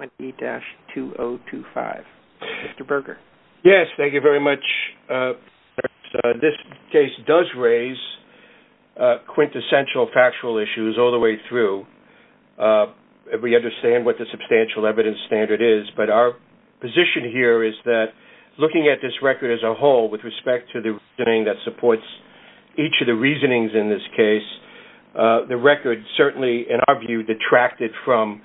2020-2025. Mr. Berger. Yes, thank you very much. This case does raise quintessential factual issues all the way through. We understand what the substantial evidence standard is, but our position here is that looking at this record as a whole with respect to the reasoning that supports each of the reasonings in this case, the record certainly, in our view, detracted from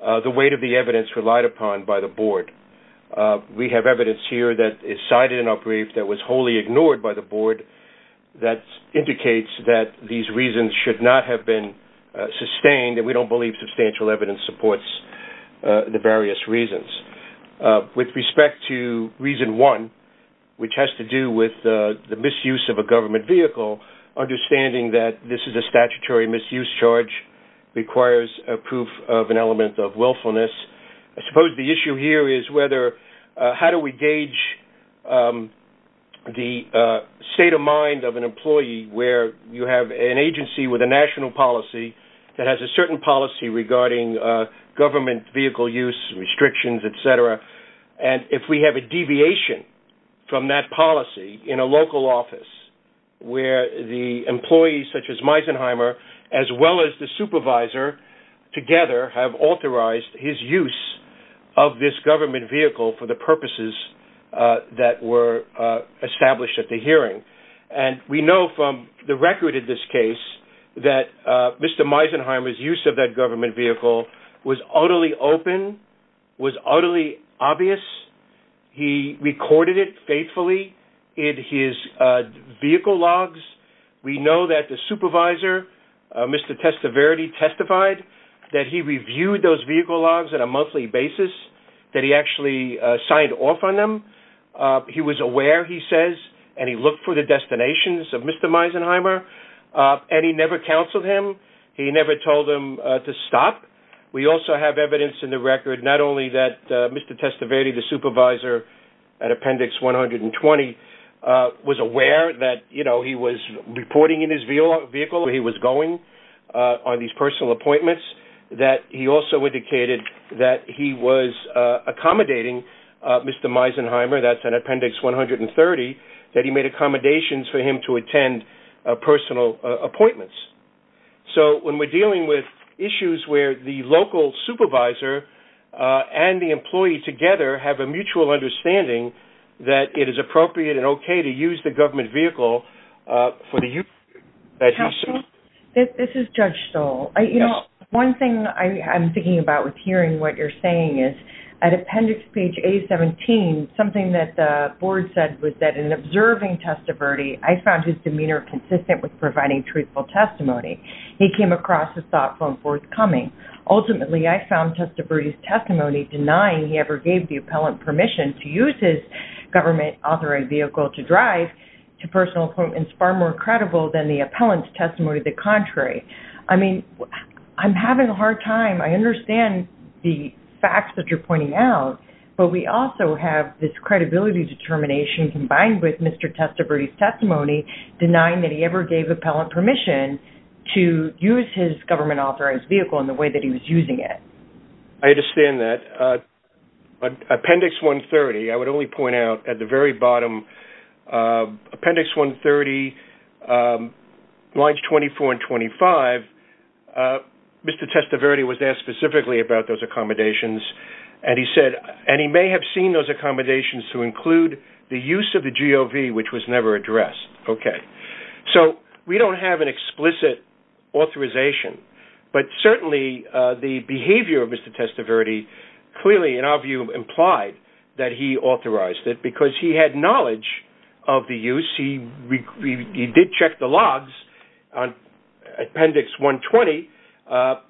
the weight of the evidence relied upon by the board. We have evidence here that is cited in our brief that was wholly ignored by the board that indicates that these reasons should not have been sustained, and we don't believe substantial evidence supports the various reasons. With respect to reason one, which has to do with the misuse of a government vehicle, understanding that this is a statutory misuse charge requires a proof of an element of willfulness. I suppose the issue here is how do we gauge the state of mind of an employee where you have an agency with a national policy that has a certain policy regarding government vehicle use restrictions, etc., and if we have a deviation from that policy in a local office where the employees such as Meisenheimer, as well as the supervisor, together have authorized his use of this government vehicle for the purposes that were established at the hearing, and we know from the record in this case that Mr. Meisenheimer's use of that government vehicle was utterly open, was utterly obvious. He recorded it faithfully in his vehicle logs. We know that the supervisor, Mr. Testaverde, testified that he reviewed those vehicle logs on a monthly basis, that he actually signed off on them. He was aware, he says, and he looked for the destinations of Mr. Meisenheimer, and he never counseled him. He never told him to stop. We also have evidence in the record not only that Mr. Testaverde, the supervisor at Appendix 120, was aware that he was reporting in his vehicle where he was going on these personal appointments, that he also indicated that he was accommodating Mr. Meisenheimer, that's in Appendix 130, that he made accommodations for him to attend personal appointments. So when we're dealing with issues where the local supervisor and the employee together have a mutual understanding that it is appropriate and okay to use the government vehicle for the use that he's serving. Counsel, this is Judge Stoll. You know, one thing I'm thinking about with hearing what you're saying is, at Appendix page 817, something that the board said was that in observing Testaverde, I found his demeanor consistent with providing truthful testimony. He came across as thoughtful and forthcoming. Ultimately, I found Testaverde's testimony denying he ever gave the appellant permission to use his government authoring vehicle to drive to personal appointments far more credible than the appellant's testimony of the contrary. I mean, I'm having a hard time. I understand the facts that you're pointing out, but we don't have Testaverde's testimony denying that he ever gave the appellant permission to use his government authoring vehicle in the way that he was using it. I understand that. But Appendix 130, I would only point out at the very bottom, Appendix 130, lines 24 and 25, Mr. Testaverde was asked specifically about those accommodations, and he said, and he may have seen those accommodations to include the use of the GOV, which was never addressed. Okay. So we don't have an explicit authorization, but certainly the behavior of Mr. Testaverde clearly, in our view, implied that he authorized it because he had knowledge of the use. He did check the logs on Appendix 120.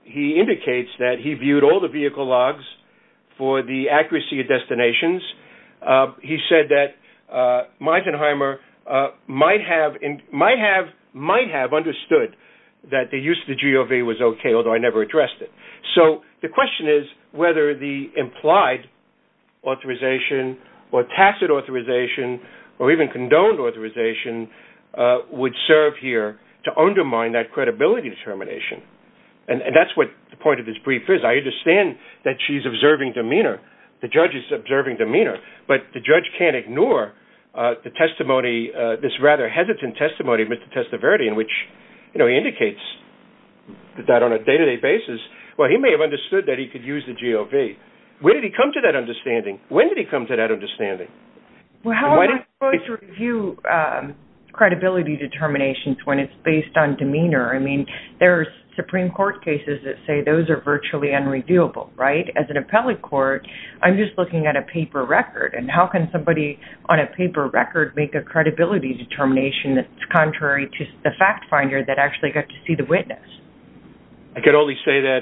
He indicates that he viewed all the vehicle logs for the accuracy of destinations. He said that Meisenheimer might have understood that the use of the GOV was okay, although I never addressed it. So the question is whether the implied authorization or tacit authorization or even condoned authorization would serve here to undermine that credibility determination. And that's what the point of this brief is. I understand that she's observing demeanor. The judge is observing demeanor, but the judge can't ignore the testimony, this rather hesitant testimony of Mr. Testaverde in which, you know, he indicates that on a day-to-day basis, well, he may have understood that he could use the GOV. When did he come to that understanding? When did he come to that understanding? Well, how am I supposed to review credibility determinations when it's based on demeanor? I mean, there's Supreme Court cases that say those are virtually unrevealable, right? As an appellate court, I'm just looking at a paper record. And how can somebody on a paper record make a credibility determination that's contrary to the fact finder that actually got to see the witness? I could only say that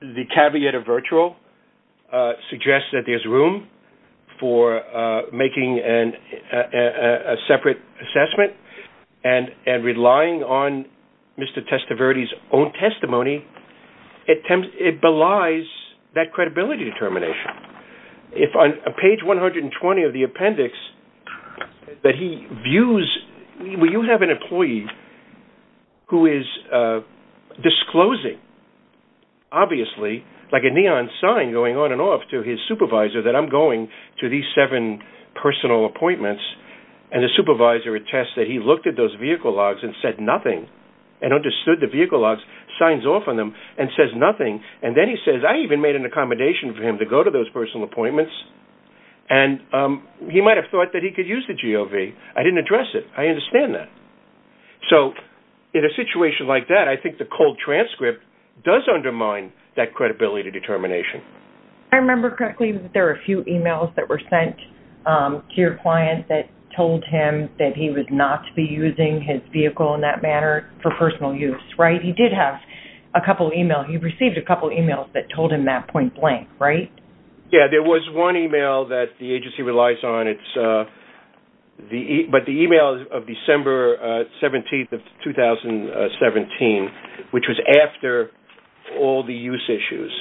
the caveat of virtual suggests that there's room for making a separate assessment and relying on Mr. Testaverde's own testimony. It belies that credibility determination. If on page 120 of the appendix that he views, where you have an employee who is disclosing, obviously, like a neon sign going on and off to his supervisor that I'm going to these seven personal appointments, and the supervisor attests that he looked at those vehicle logs and said nothing, and understood the vehicle logs, signs off on them, and says nothing. And then he says, I even made an accommodation for him to go to those personal appointments. And he might have thought that he could use the GOV. I didn't address it. I understand that. So in a situation like that, I think the cold transcript does undermine that credibility determination. I remember correctly that there were a few emails that were sent to your client that told him that he would not be using his vehicle in that manner for personal use, right? He did have a couple of emails. He received a couple of emails that told him that point blank, right? Yes. There was one email that the agency relies on. It's the email of December 17th of 2017, which was after all the use issues.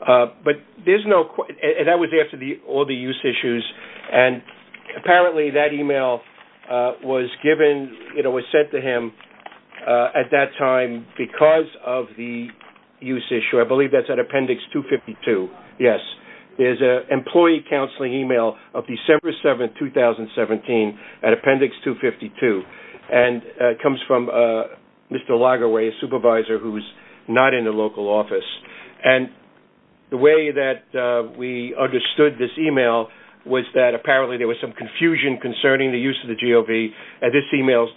But there's no... And that was after all the use issues. And apparently that email was given, you know, was sent to him at that time because of the use issue. I believe that's at Appendix 252. Yes. There's an employee counseling email of December 7th, 2017 at Appendix 252. And it comes from Mr. Lagerwey, a supervisor who's not in the local office. And the way that we understood this email was that apparently there was some confusion concerning the use of the GOV, and this email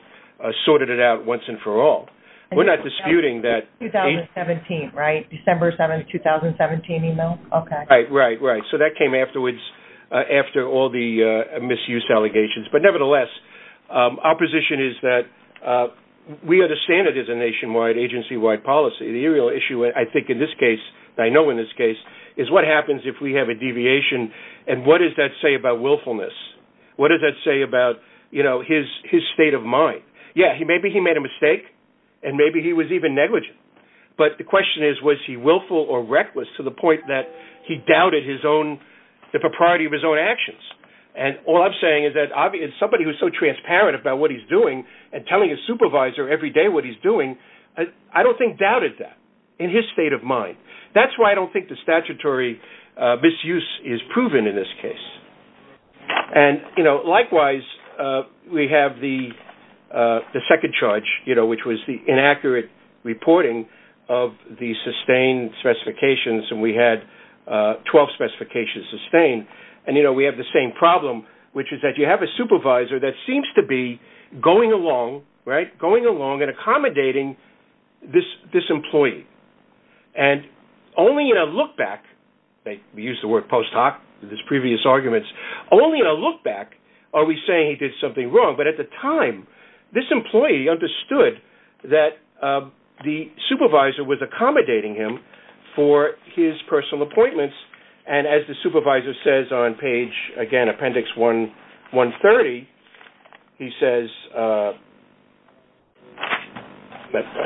sorted it out once and for all. We're not disputing that... 2017, right? December 7th, 2017 email? Okay. Right, right, right. So that came afterwards after all the misuse allegations. But nevertheless, our position is that we understand it as a nationwide agency-wide policy. The real issue, I think in this case, and I know in this case, is what happens if we have a deviation, and what does that say about willfulness? What does that say about, you know, his state of mind? Yeah, maybe he made a mistake, and maybe he was even negligent. But the question is, was he willful or reckless to the point that he doubted the propriety of his own actions? And all I'm saying is that somebody who's so transparent about what he's doing, and telling his supervisor every day what he's doing, I don't think doubted that in his state of mind. That's why I don't think the statutory misuse is proven in this case. And, you know, likewise, we have the second charge, you know, which was the inaccurate reporting of the sustained specifications, and we had 12 specifications sustained. And, you know, we have the same problem, which is that you have a supervisor that seems to be going along, right, going along and accommodating this employee. And only in a look-back, we use the word post-hoc in his previous arguments, only in a look-back are we saying he did something wrong. But at the time, this employee understood that the supervisor was accommodating him for his personal appointments, and as the supervisor says on page, again, appendix 130, he says, I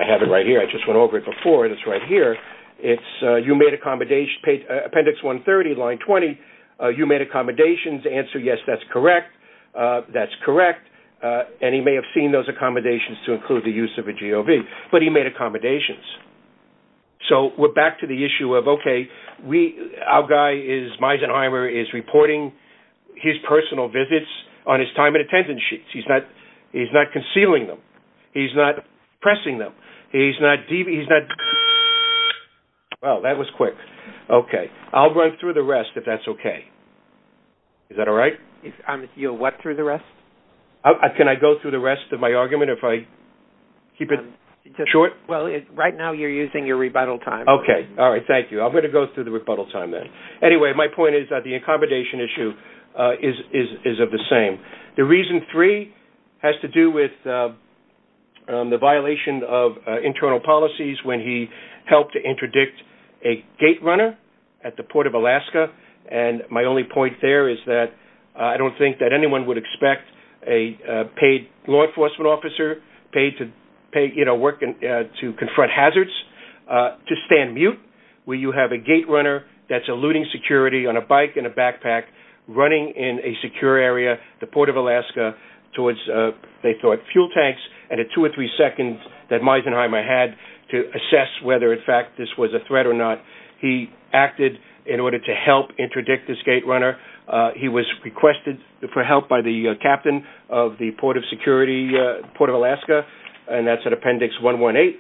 have it right here, I just went over it before, it's right here, it's you made accommodation, appendix 130, line 20, you made accommodations, answer yes, that's correct, and he may have seen those accommodations to include the use of a GOV, but he made accommodations. So we're back to the issue of, okay, our guy is, Meisenheimer is reporting his personal visits on his time and attendance sheets. He's not concealing them. He's not pressing them. He's not, well, that was quick. Okay. I'll run through the rest if that's okay. Is that all right? You'll what through the rest? Can I go through the rest of my argument if I keep it short? Well, right now, you're using your rebuttal time. Okay. All right. Thank you. I'm going to go through the rebuttal time then. Anyway, my point is that the accommodation issue is of the same. The reason three has to do with the violation of internal policies when he helped to interdict a gate runner at the Port of Alaska, and my only point there is that I don't think that anyone would expect a paid law enforcement officer, paid to work to confront hazards, to stand mute, where you have a gate runner that's eluding security on a bike and a backpack running in a secure area, the Port of Alaska, towards, they thought, fuel tanks, and at two or three seconds that Meisenheimer had to assess whether, in fact, this was a threat or not, he acted in order to help interdict this gate runner. He was requested for help by the captain of the Port of Alaska, and that's at Appendix 118,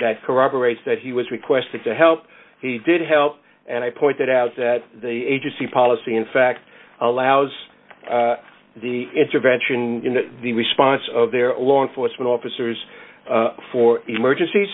that corroborates that he was requested to help. He did help, and I pointed out that the agency policy, in fact, allows the intervention, the response of their law enforcement officers for emergencies,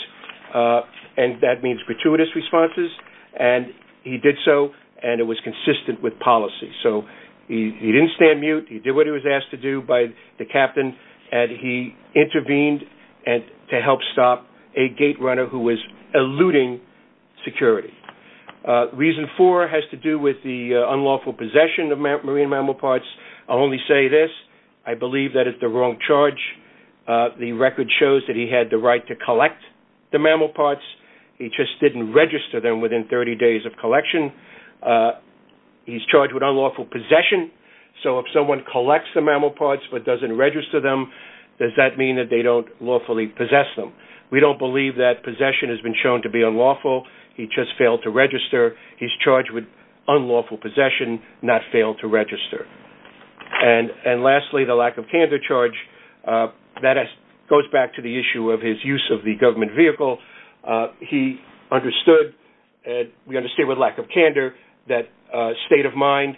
and that means gratuitous responses, and he did so, and it was consistent with policy. So he didn't stand mute, he did what he was asked to do by the captain, and he intervened to help stop a gate runner who was eluding security. Reason four has to do with the unlawful possession of marine mammal parts. I'll only say this, I believe that it's the wrong charge. The record shows that he had the right to collect the mammal parts, he just didn't register them within 30 days of collection. He's charged with unlawful possession, so if someone collects the mammal parts but doesn't register them, does that mean that they don't lawfully possess them? We don't believe that possession has been shown to be unlawful, he just failed to register. He's charged with unlawful possession, not failed to register. And lastly, the lack of candor charge, that goes back to the issue of his use of the government vehicle. He understood, we understand with lack of candor, that state of mind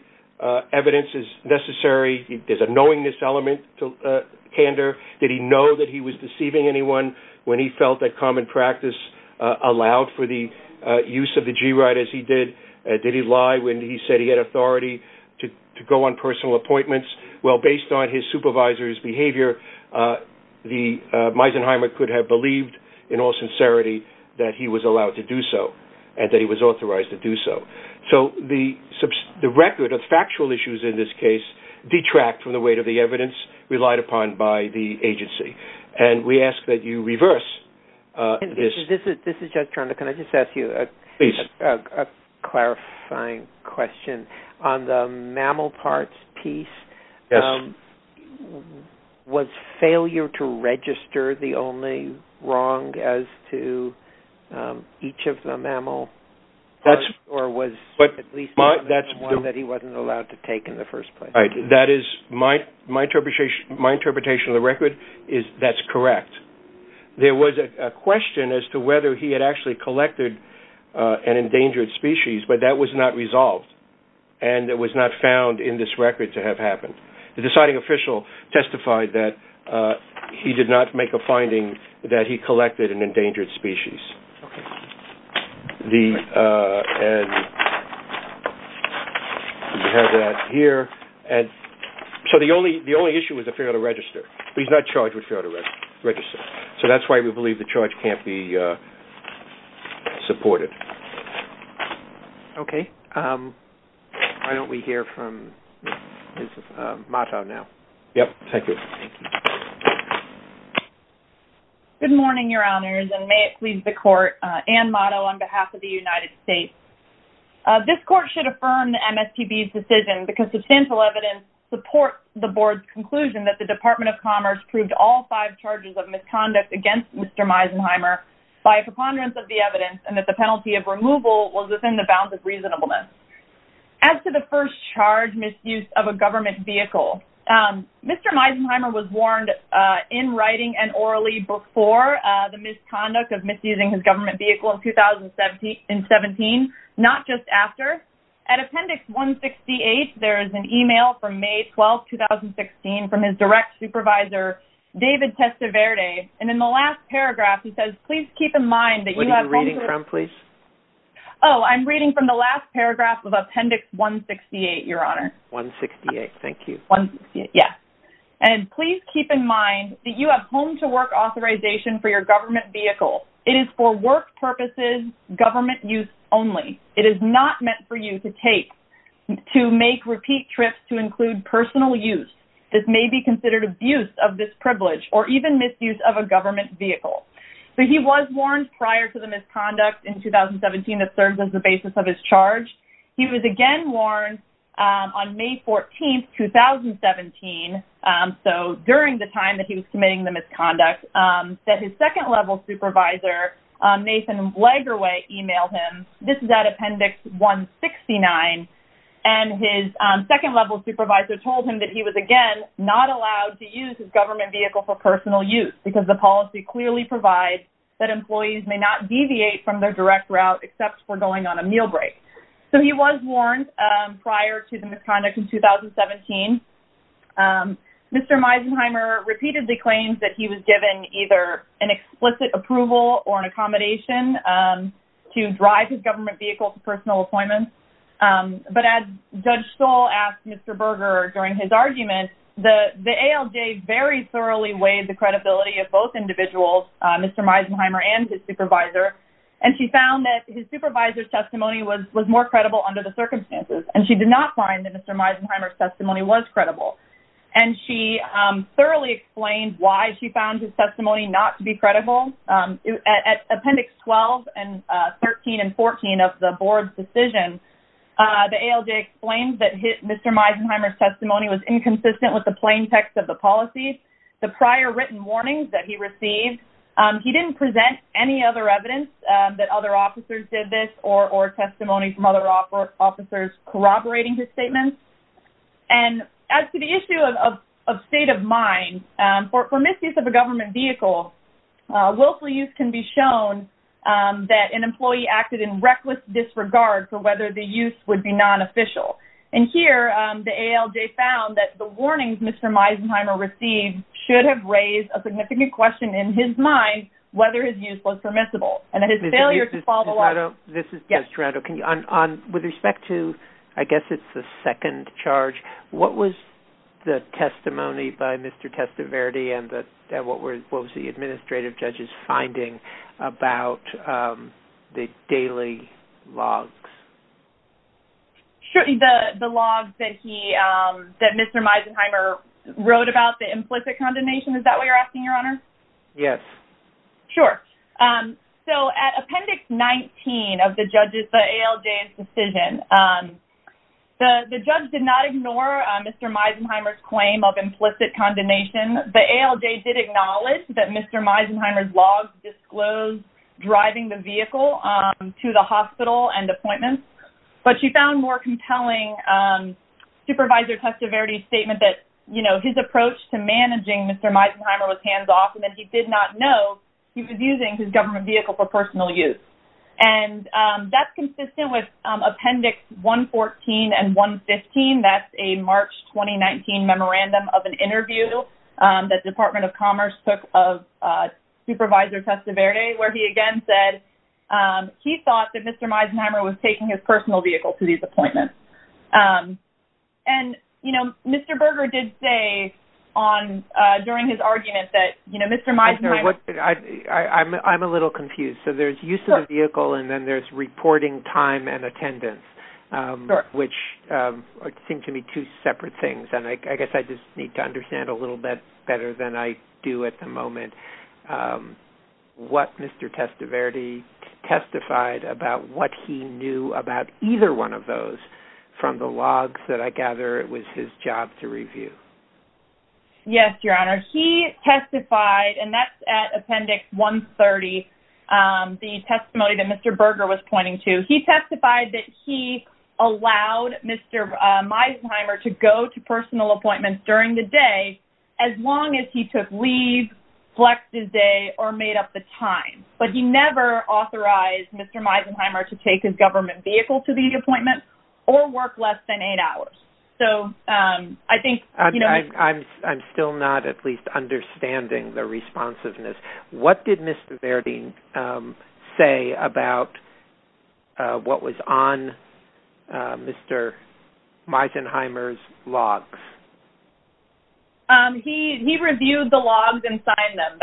evidence is necessary, there's a knowingness element to candor. Did he know that he was deceiving anyone when he felt that common practice allowed for the use of the G-Ride as he did? Did he lie when he said he had authority to go on personal appointments? Well, based on his supervisor's behavior, Meisenheimer could have believed in all sincerity that he was allowed to do so and that he was authorized to do so. So the record of factual issues in this case detract from the weight of the evidence relied upon by the agency. And we ask that you reverse this. This is Jeff Trondek. Can I just ask you a clarifying question? On the mammal parts piece, was failure to register the only wrong as to each of the mammal parts or was at least one that he wasn't allowed to take in the first place? That is, my interpretation of the record is that's correct. There was a question as to whether he had actually collected an endangered species, but that was not resolved. And it was not found in this record to have happened. The deciding official testified that he did not make a finding that he collected an endangered species. And we have that here. So the only issue is the failure to register. He's not charged with failure to register. So that's why we believe the charge can't be supported. Okay. Why don't we hear from Ms. Matau now? Yep. Thank you. Good morning, your honors, and may it please the court. Anne Matau on behalf of the United States. This court should affirm the MSTB's decision because substantial evidence supports the board's conclusion that the Department of Commerce proved all five charges of misconduct against Mr. Meisenheimer by a preponderance of the evidence and that the penalty of removal was within the bounds of reasonableness. As to the first charge, misuse of a government vehicle. Mr. Meisenheimer was warned in writing and orally before the misconduct of misusing his government vehicle in 2017, not just after. At appendix 168, there is an email from May 12th, 2016, from his direct supervisor, David Testaverde. And in the last paragraph, he says, please keep in mind that you have- What are you reading from, please? Oh, I'm reading from the last paragraph of appendix 168, your honor. 168, thank you. Yeah. And please keep in mind that you have home-to-work authorization for your government vehicle. It is for work purposes, government use only. It is not meant for you to take, to make repeat trips to include personal use. This may be considered abuse of this privilege or even misuse of a government vehicle. So he was warned prior to the misconduct in 2017 that serves as the basis of his charge. He was again warned on May 14th, 2017, so during the time that he was committing the misconduct, that his second level supervisor, Nathan Blaggerway, emailed him. This is at appendix 169. And his second level supervisor told him that he was, again, not allowed to use his government vehicle for personal use because the policy clearly provides that employees may not deviate from their direct route except for going on a meal break. So he was warned prior to the misconduct in 2017. Mr. Meisenheimer repeatedly claims that he was given either an explicit approval or an accommodation to drive his government vehicle to personal appointments. But as Judge Stoll asked Mr. Berger during his argument, the ALJ very thoroughly weighed the credibility of both individuals, Mr. Meisenheimer and his supervisor, and she found that his supervisor's testimony was more credible under the circumstances. And she did not find that Mr. Meisenheimer's testimony was credible. And she thoroughly explained why she found his testimony not to be credible. At appendix 12 and 13 and 14 of the board's decision, the ALJ explained that Mr. Meisenheimer's testimony was inconsistent with the plain text of the policy. The prior written warnings that he received, he didn't present any other evidence that other officers did this or testimony from other officers corroborating his statements. And as to the issue of state of mind, for misuse of a government vehicle, willful use can be shown that an employee acted in reckless disregard for whether the use would be non-official. And here, the ALJ found that the warnings Mr. Meisenheimer received should have raised a significant question in his mind, whether his use was permissible. And that his failure to follow up... This is Judge Toronto. With respect to, I guess it's the second charge, what was the testimony by Mr. Testiverde and what was the administrative judge's finding about the daily logs? The logs that he, that Mr. Meisenheimer wrote about the implicit condemnation, is that what you're asking, Your Honor? Yes. Sure. So at appendix 19 of the judges, the ALJ's decision, the judge did not ignore Mr. Meisenheimer's claim of implicit condemnation. The ALJ did acknowledge that Mr. Meisenheimer's logs disclosed driving the vehicle to the hospital and appointments, but she found more compelling Supervisor Testiverde's statement that his approach to managing Mr. Meisenheimer was hands-off and that he did not know he was using his government vehicle for personal use. And that's consistent with appendix 114 and 115. That's a March 2019 memorandum of an interview that Department of Commerce took of Supervisor Testiverde, where he again said he thought that Mr. Meisenheimer was taking his personal vehicle to these appointments. And, you know, Mr. Berger did say on, during his argument that, you know, Mr. Meisenheimer... I'm a little confused. So there's use of the vehicle and then there's reporting time and attendance, which seem to me two separate things. And I guess I just need to understand a little bit better than I do at the moment, what Mr. Testiverde testified about what he knew about either one of those from the logs that I gather it was his job to review. Yes, Your Honor. He testified, and that's at appendix 130, the testimony that Mr. Berger was pointing to. He testified that he allowed Mr. Meisenheimer to go to personal appointments during the day as long as he took leave, flexed his day, or made up the time. But he never authorized Mr. Meisenheimer to take his government vehicle to these appointments or work less than eight hours. So I think, you know... I'm still not at least understanding the responsiveness. What did Mr. Berger say about what was on Mr. Meisenheimer's logs? He reviewed the logs and signed them.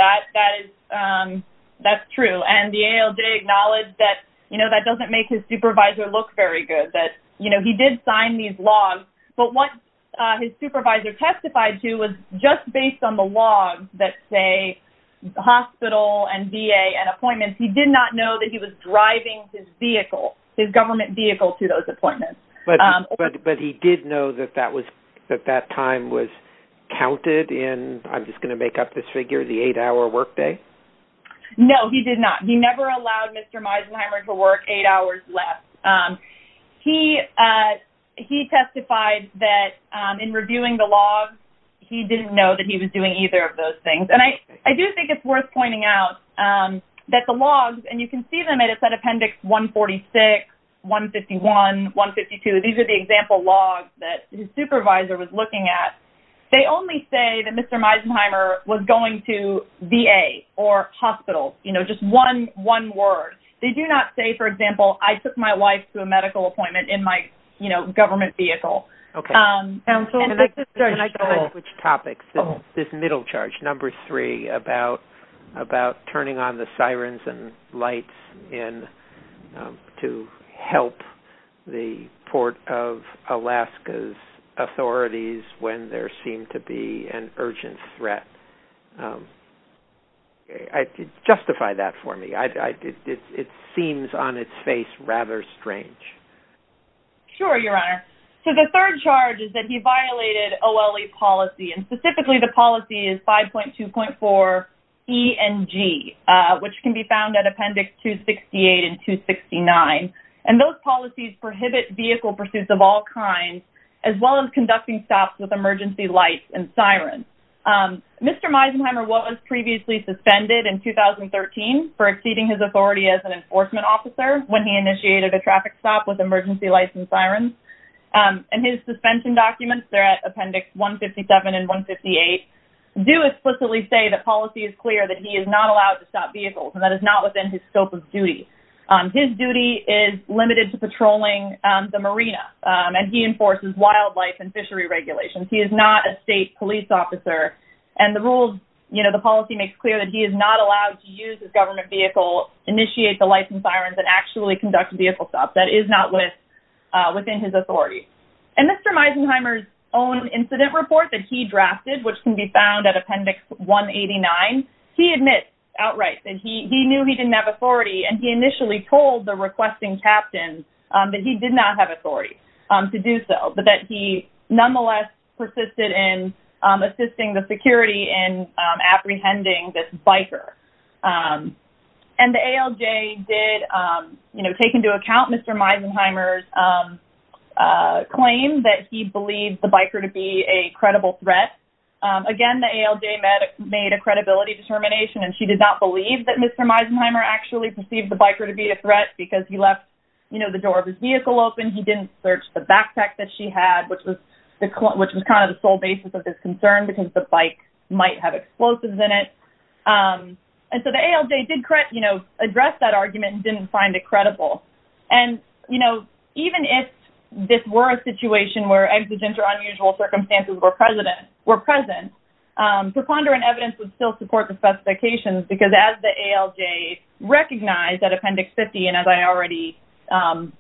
That's true. And the ALJ acknowledged that, you know, that doesn't make his supervisor look very good, that, you know, he did sign these logs. But what his supervisor testified to was just based on the logs that say hospital and VA and appointments. He did not know that he was driving his vehicle, his government vehicle, to those appointments. But he did know that that time was counted in, I'm just going to make up this figure, the eight-hour workday? No, he did not. He never allowed Mr. Meisenheimer to work eight hours less. He testified that in reviewing the logs, he didn't know that he was doing either of those things. And I do think it's worth pointing out that the logs, and you can see they made a set appendix 146, 151, 152. These are the example logs that his supervisor was looking at. They only say that Mr. Meisenheimer was going to VA or hospital, you know, just one word. They do not say, for example, I took my wife to a medical appointment in my, you know, government vehicle. Can I switch topics? This middle charge, number three, about turning on the sirens and lights to help the Port of Alaska's authorities when there seemed to be an urgent threat. Justify that for me. It seems on its face rather strange. Sure, Your Honor. So the third charge is that he violated OLE policy, and specifically the policy is 5.2.4 E and G. Which can be found at appendix 268 and 269. And those policies prohibit vehicle pursuits of all kinds, as well as conducting stops with emergency lights and sirens. Mr. Meisenheimer was previously suspended in 2013 for exceeding his authority as an enforcement officer when he initiated a traffic stop with emergency lights and sirens. And his suspension documents, they're at appendix 157 and 158, do explicitly say that policy is clear that he is not allowed to stop vehicles, and that is not within his scope of duty. His duty is limited to patrolling the marina, and he enforces wildlife and fishery regulations. He is not a state police officer, and the rules, you know, the policy makes clear that he is not allowed to use his government vehicle, initiate the license sirens, and actually conduct vehicle stops. That is not within his authority. And Mr. Meisenheimer's own incident report that he drafted, which can be found at appendix 189, he admits outright that he knew he didn't have authority, and he initially told the requesting captain that he did not have authority to do so, but that he nonetheless persisted in assisting the security in apprehending this biker. And the ALJ did, you know, take into account Mr. Meisenheimer's claim that he believed the biker to be a credible threat. Again, the ALJ made a credibility determination, and she did not believe that Mr. Meisenheimer actually perceived the biker to be a threat, because he left, you know, the door of his vehicle open. He didn't search the backpack that she had, which was kind of the sole basis of this concern, because the bike might have explosives in it. And so the ALJ did, you know, address that argument and didn't find it credible. And, you know, even if this were a situation where accidents or unusual circumstances were present, preponderant evidence would still support the specifications, because as the ALJ recognized at appendix 50, and as I already,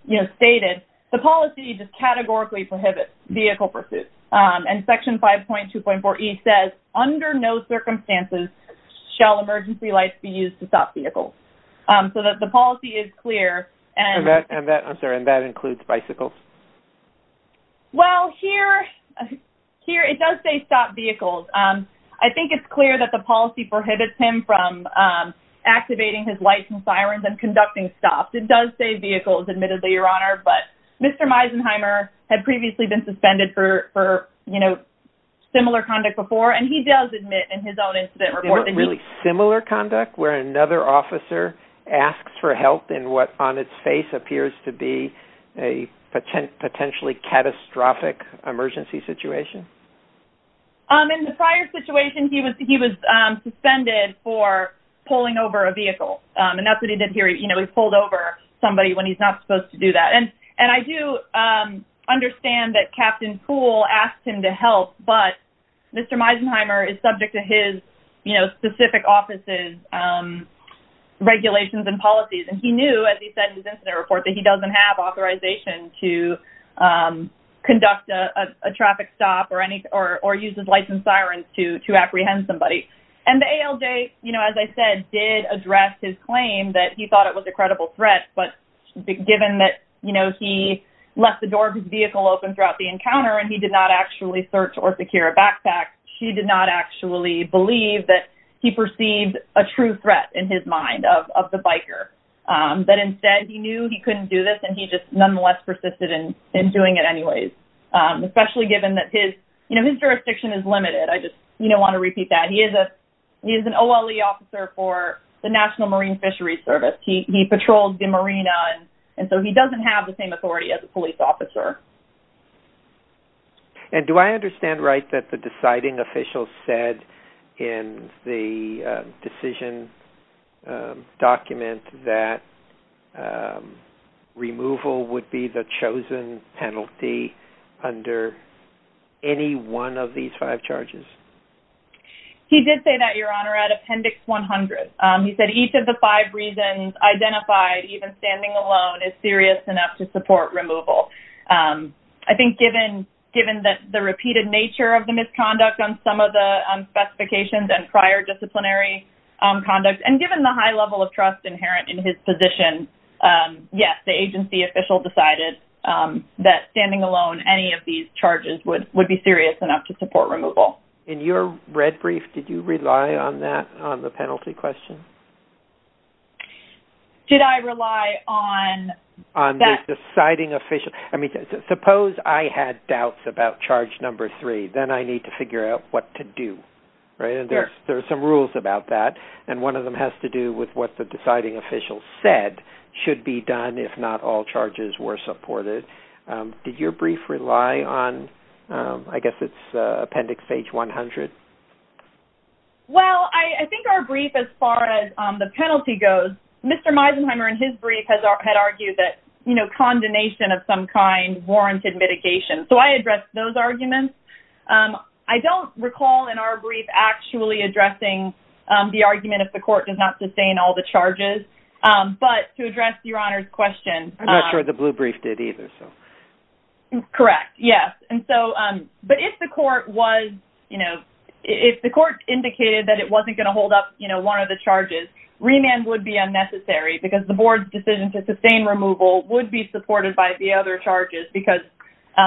you know, stated, the policy just categorically prohibits vehicle pursuit. And section 5.2.4E says, under no circumstances shall emergency lights be used to stop vehicles. So that the policy is clear, and... And that, I'm sorry, and that includes bicycles? Well, here, here, it does say stop vehicles. I think it's clear that the policy prohibits him from activating his lights and sirens and conducting stops. It does say vehicles, admittedly, Your Honor, but Mr. Meisenheimer had previously been suspended for, you know, similar conduct before, and he does admit in his own incident report that he... Really similar conduct, where another officer asks for help in what on its face appears to be a potentially catastrophic emergency situation. In the prior situation, he was suspended for pulling over a vehicle, and that's what he did here. You know, he pulled over somebody when he's not supposed to do that. And I do understand that Captain Poole asked him to help, but Mr. Meisenheimer is subject to his, you know, specific office's regulations and policies, and he knew, as he said in his incident report, that he doesn't have authorization to conduct a traffic stop or any, or use his lights and sirens to apprehend somebody. And the ALJ, you know, as I said, did address his claim that he thought it was a credible threat, but given that, you know, he left the door of his vehicle open throughout the encounter and he did not actually search or secure a backpack, she did not actually believe that he was a true threat in his mind of the biker. But instead, he knew he couldn't do this and he just nonetheless persisted in doing it anyways. Especially given that his, you know, his jurisdiction is limited. I just, you know, want to repeat that. He is an OLE officer for the National Marine Fisheries Service. He patrolled the marina, and so he doesn't have the same authority as a police officer. And do I understand right that the deciding official said in the decision document that removal would be the chosen penalty under any one of these five charges? He did say that, Your Honor, at Appendix 100. He said each of the five reasons identified, even standing alone, is serious enough to support removal. I think given the repeated nature of the misconduct on some of the specifications and prior disciplinary conduct, and given the high level of trust inherent in his position, yes, the agency official decided that standing alone, any of these charges would be serious enough to support removal. In your red brief, did you rely on that, on the penalty question? Did I rely on that? On the deciding official. I mean, suppose I had doubts about charge number three. Then I need to figure out what to do, right? And there's some rules about that, and one of them has to do with what the deciding official said should be done if not all charges were supported. Did your brief rely on, I guess it's Appendix 100? Well, I think our brief, as far as the penalty goes, Mr. Meisenheimer in his brief had argued that, you know, condemnation of some kind warranted mitigation. So I addressed those arguments. I don't recall in our brief actually addressing the argument if the court does not sustain all the charges, but to address Your Honor's question... I'm not sure the blue brief did either, so... Correct, yes. And so, but if the court was, you know, if the court indicated that it wasn't going to hold up, you know, one of the charges, remand would be unnecessary because the board's decision to sustain removal would be supported by the other charges because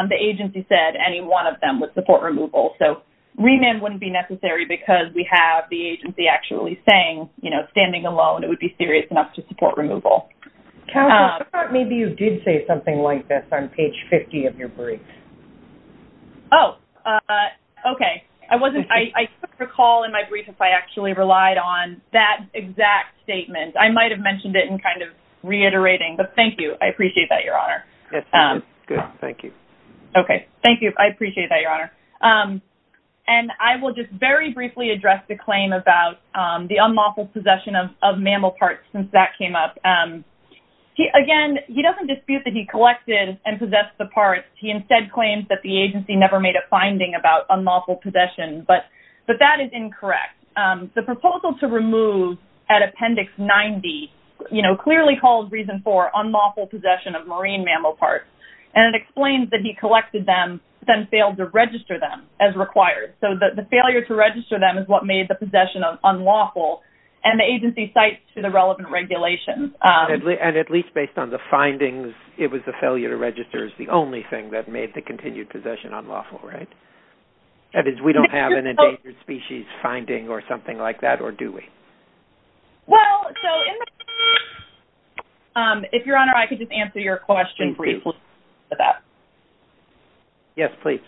the agency said any one of them would support removal. So remand wouldn't be necessary because we have the agency actually saying, you know, standing alone, it would be serious enough to support removal. Counsel, I thought maybe you did say something like this on page 50 of your brief. Oh, okay. I wasn't, I recall in my brief if I actually relied on that exact statement. I might've mentioned it in kind of reiterating, but thank you. I appreciate that, Your Honor. Yes, good. Thank you. Okay. Thank you. I appreciate that, Your Honor. And I will just very briefly address the claim about the unlawful possession of mammal parts since that came up. Again, he doesn't dispute that he collected and possessed the parts. He instead claims that the agency never made a finding about unlawful possession, but that is incorrect. The proposal to remove at Appendix 90, you know, clearly calls reason for unlawful possession of marine mammal parts. And it explains that he collected them, then failed to register them as required. So the failure to register them is what made the possession unlawful and the agency cites to the relevant regulations. And at least based on the findings, it was the failure to register is the only thing that made the continued possession unlawful, right? That is, we don't have an endangered species finding or something like that, or do we? Well, so if Your Honor, I could just answer your question briefly with that. Yes, please.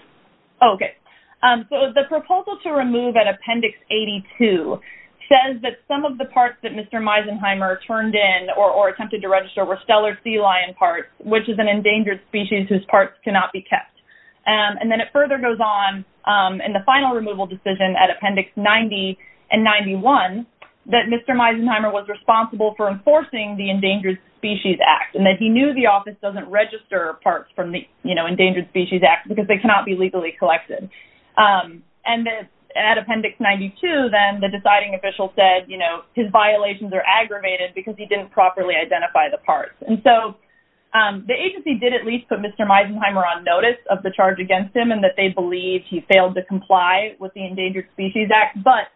Okay. So the proposal to remove at Appendix 82 says that some of the parts that Mr. Meisenheimer turned in or attempted to register were stellar sea lion parts, which is an endangered species whose parts cannot be kept. And then it further goes on in the final removal decision at Appendix 90 and 91, that Mr. Meisenheimer was responsible for enforcing the Endangered Species Act, and that he knew the office doesn't register parts from the Endangered Species Act because they cannot be legally collected. And at Appendix 92, then the deciding official said, you know, his violations are aggravated because he didn't properly identify the parts. And so the agency did at least put Mr. Meisenheimer on notice of the charge against him and that they believed he failed to comply with the Endangered Species Act. But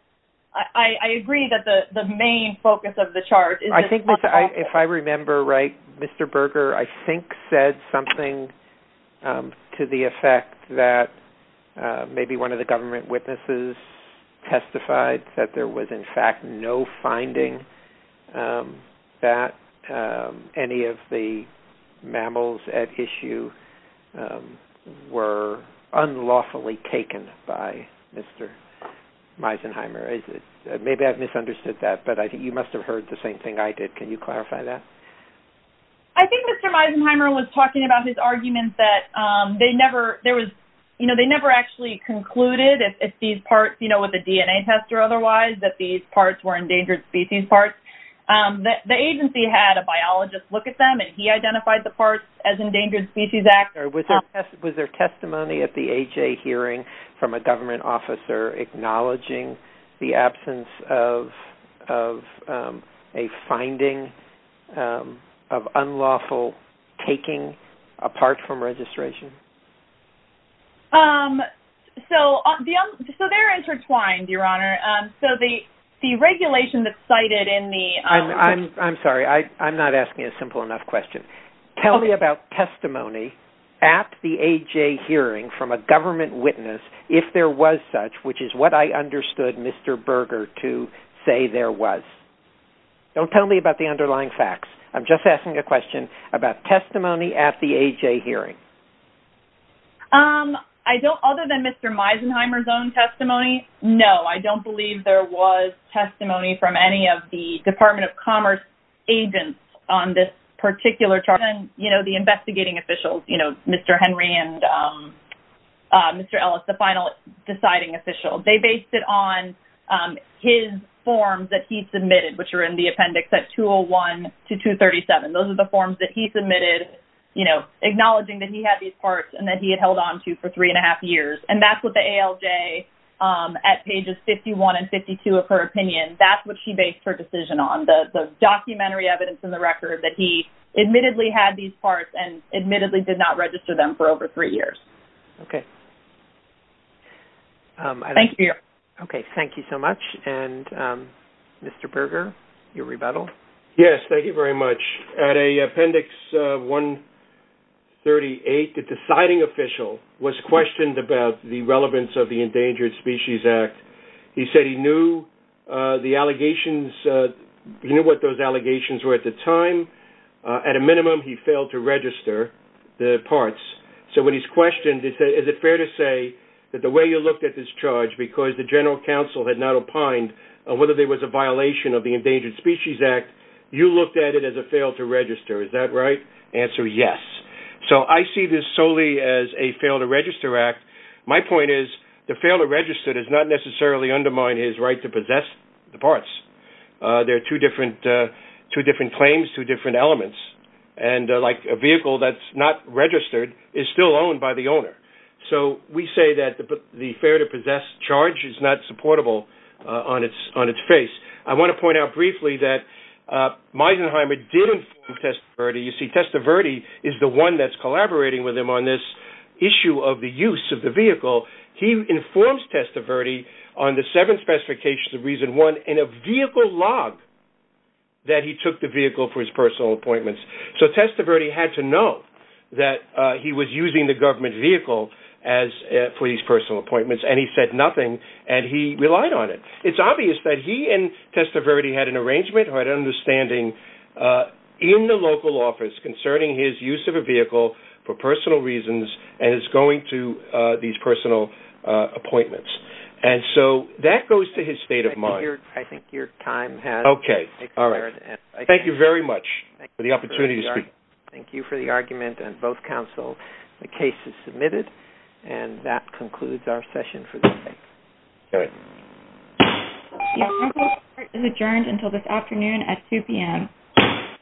I agree that the main focus of the charge is- I think if I remember right, Mr. Berger, I think said something to the effect that maybe one of the government witnesses testified that there was in fact no finding that any of the mammals at issue were unlawfully taken by Mr. Meisenheimer. Is it- maybe I've misunderstood that, but I think you must have heard the same thing I did. Can you clarify that? I think Mr. Meisenheimer was talking about his argument that they never- there was- you know, they never actually concluded if these parts, you know, with a DNA test or otherwise, that these parts were endangered species parts. The agency had a biologist look at them, and he identified the parts as Endangered Species Act. Was there testimony at the AHA hearing from a government officer acknowledging the absence of a finding of unlawful taking apart from registration? So they're intertwined, Your Honor. So the regulation that's cited in the- I'm sorry. I'm not asking a simple enough question. Tell me about testimony at the AHA hearing from a government witness if there was such, which is what I understood Mr. Berger to say there was. Don't tell me about the underlying facts. I'm just asking a question about testimony at the AHA hearing. I don't- other than Mr. Meisenheimer's own testimony, no, I don't believe there was testimony from any of the Department of Commerce agents on this particular charge. And, you know, the investigating officials, you know, Mr. Henry and Mr. Ellis, the final deciding official, they based it on his forms that he submitted, which are in the appendix at 201 to 237. Those are the forms that he submitted, you know, acknowledging that he had these parts and that he had held onto for three and a half years. And that's what the at pages 51 and 52 of her opinion, that's what she based her decision on, the documentary evidence in the record that he admittedly had these parts and admittedly did not register them for over three years. Okay. Thank you. Okay. Thank you so much. And Mr. Berger, your rebuttal. Yes. Thank you very much. At appendix 138, the deciding official was questioned about the relevance of the Endangered Species Act. He said he knew the allegations, he knew what those allegations were at the time. At a minimum, he failed to register the parts. So when he's questioned, he said, is it fair to say that the way you looked at this charge, because the general counsel had not opined on whether there was a violation of the Endangered Species Act, you looked at it as a fail to register. Is that right? Answer, yes. So I see this solely as a fail to register act. My point is, the fail to register does not necessarily undermine his right to possess the parts. There are two different claims, two different elements, and like a vehicle that's not registered is still owned by the owner. So we say that the fair to possess charge is not supportable on its face. I want to point out briefly that issue of the use of the vehicle. He informs Testaverde on the seven specifications of reason one in a vehicle log that he took the vehicle for his personal appointments. So Testaverde had to know that he was using the government vehicle for his personal appointments, and he said nothing, and he relied on it. It's obvious that he and Testaverde had an and is going to these personal appointments. And so that goes to his state of mind. I think your time has expired. Okay. All right. Thank you very much for the opportunity to speak. Thank you for the argument, and both counsel, the case is submitted, and that concludes our session for this day. All right. The hearing is adjourned until this afternoon at 2 p.m.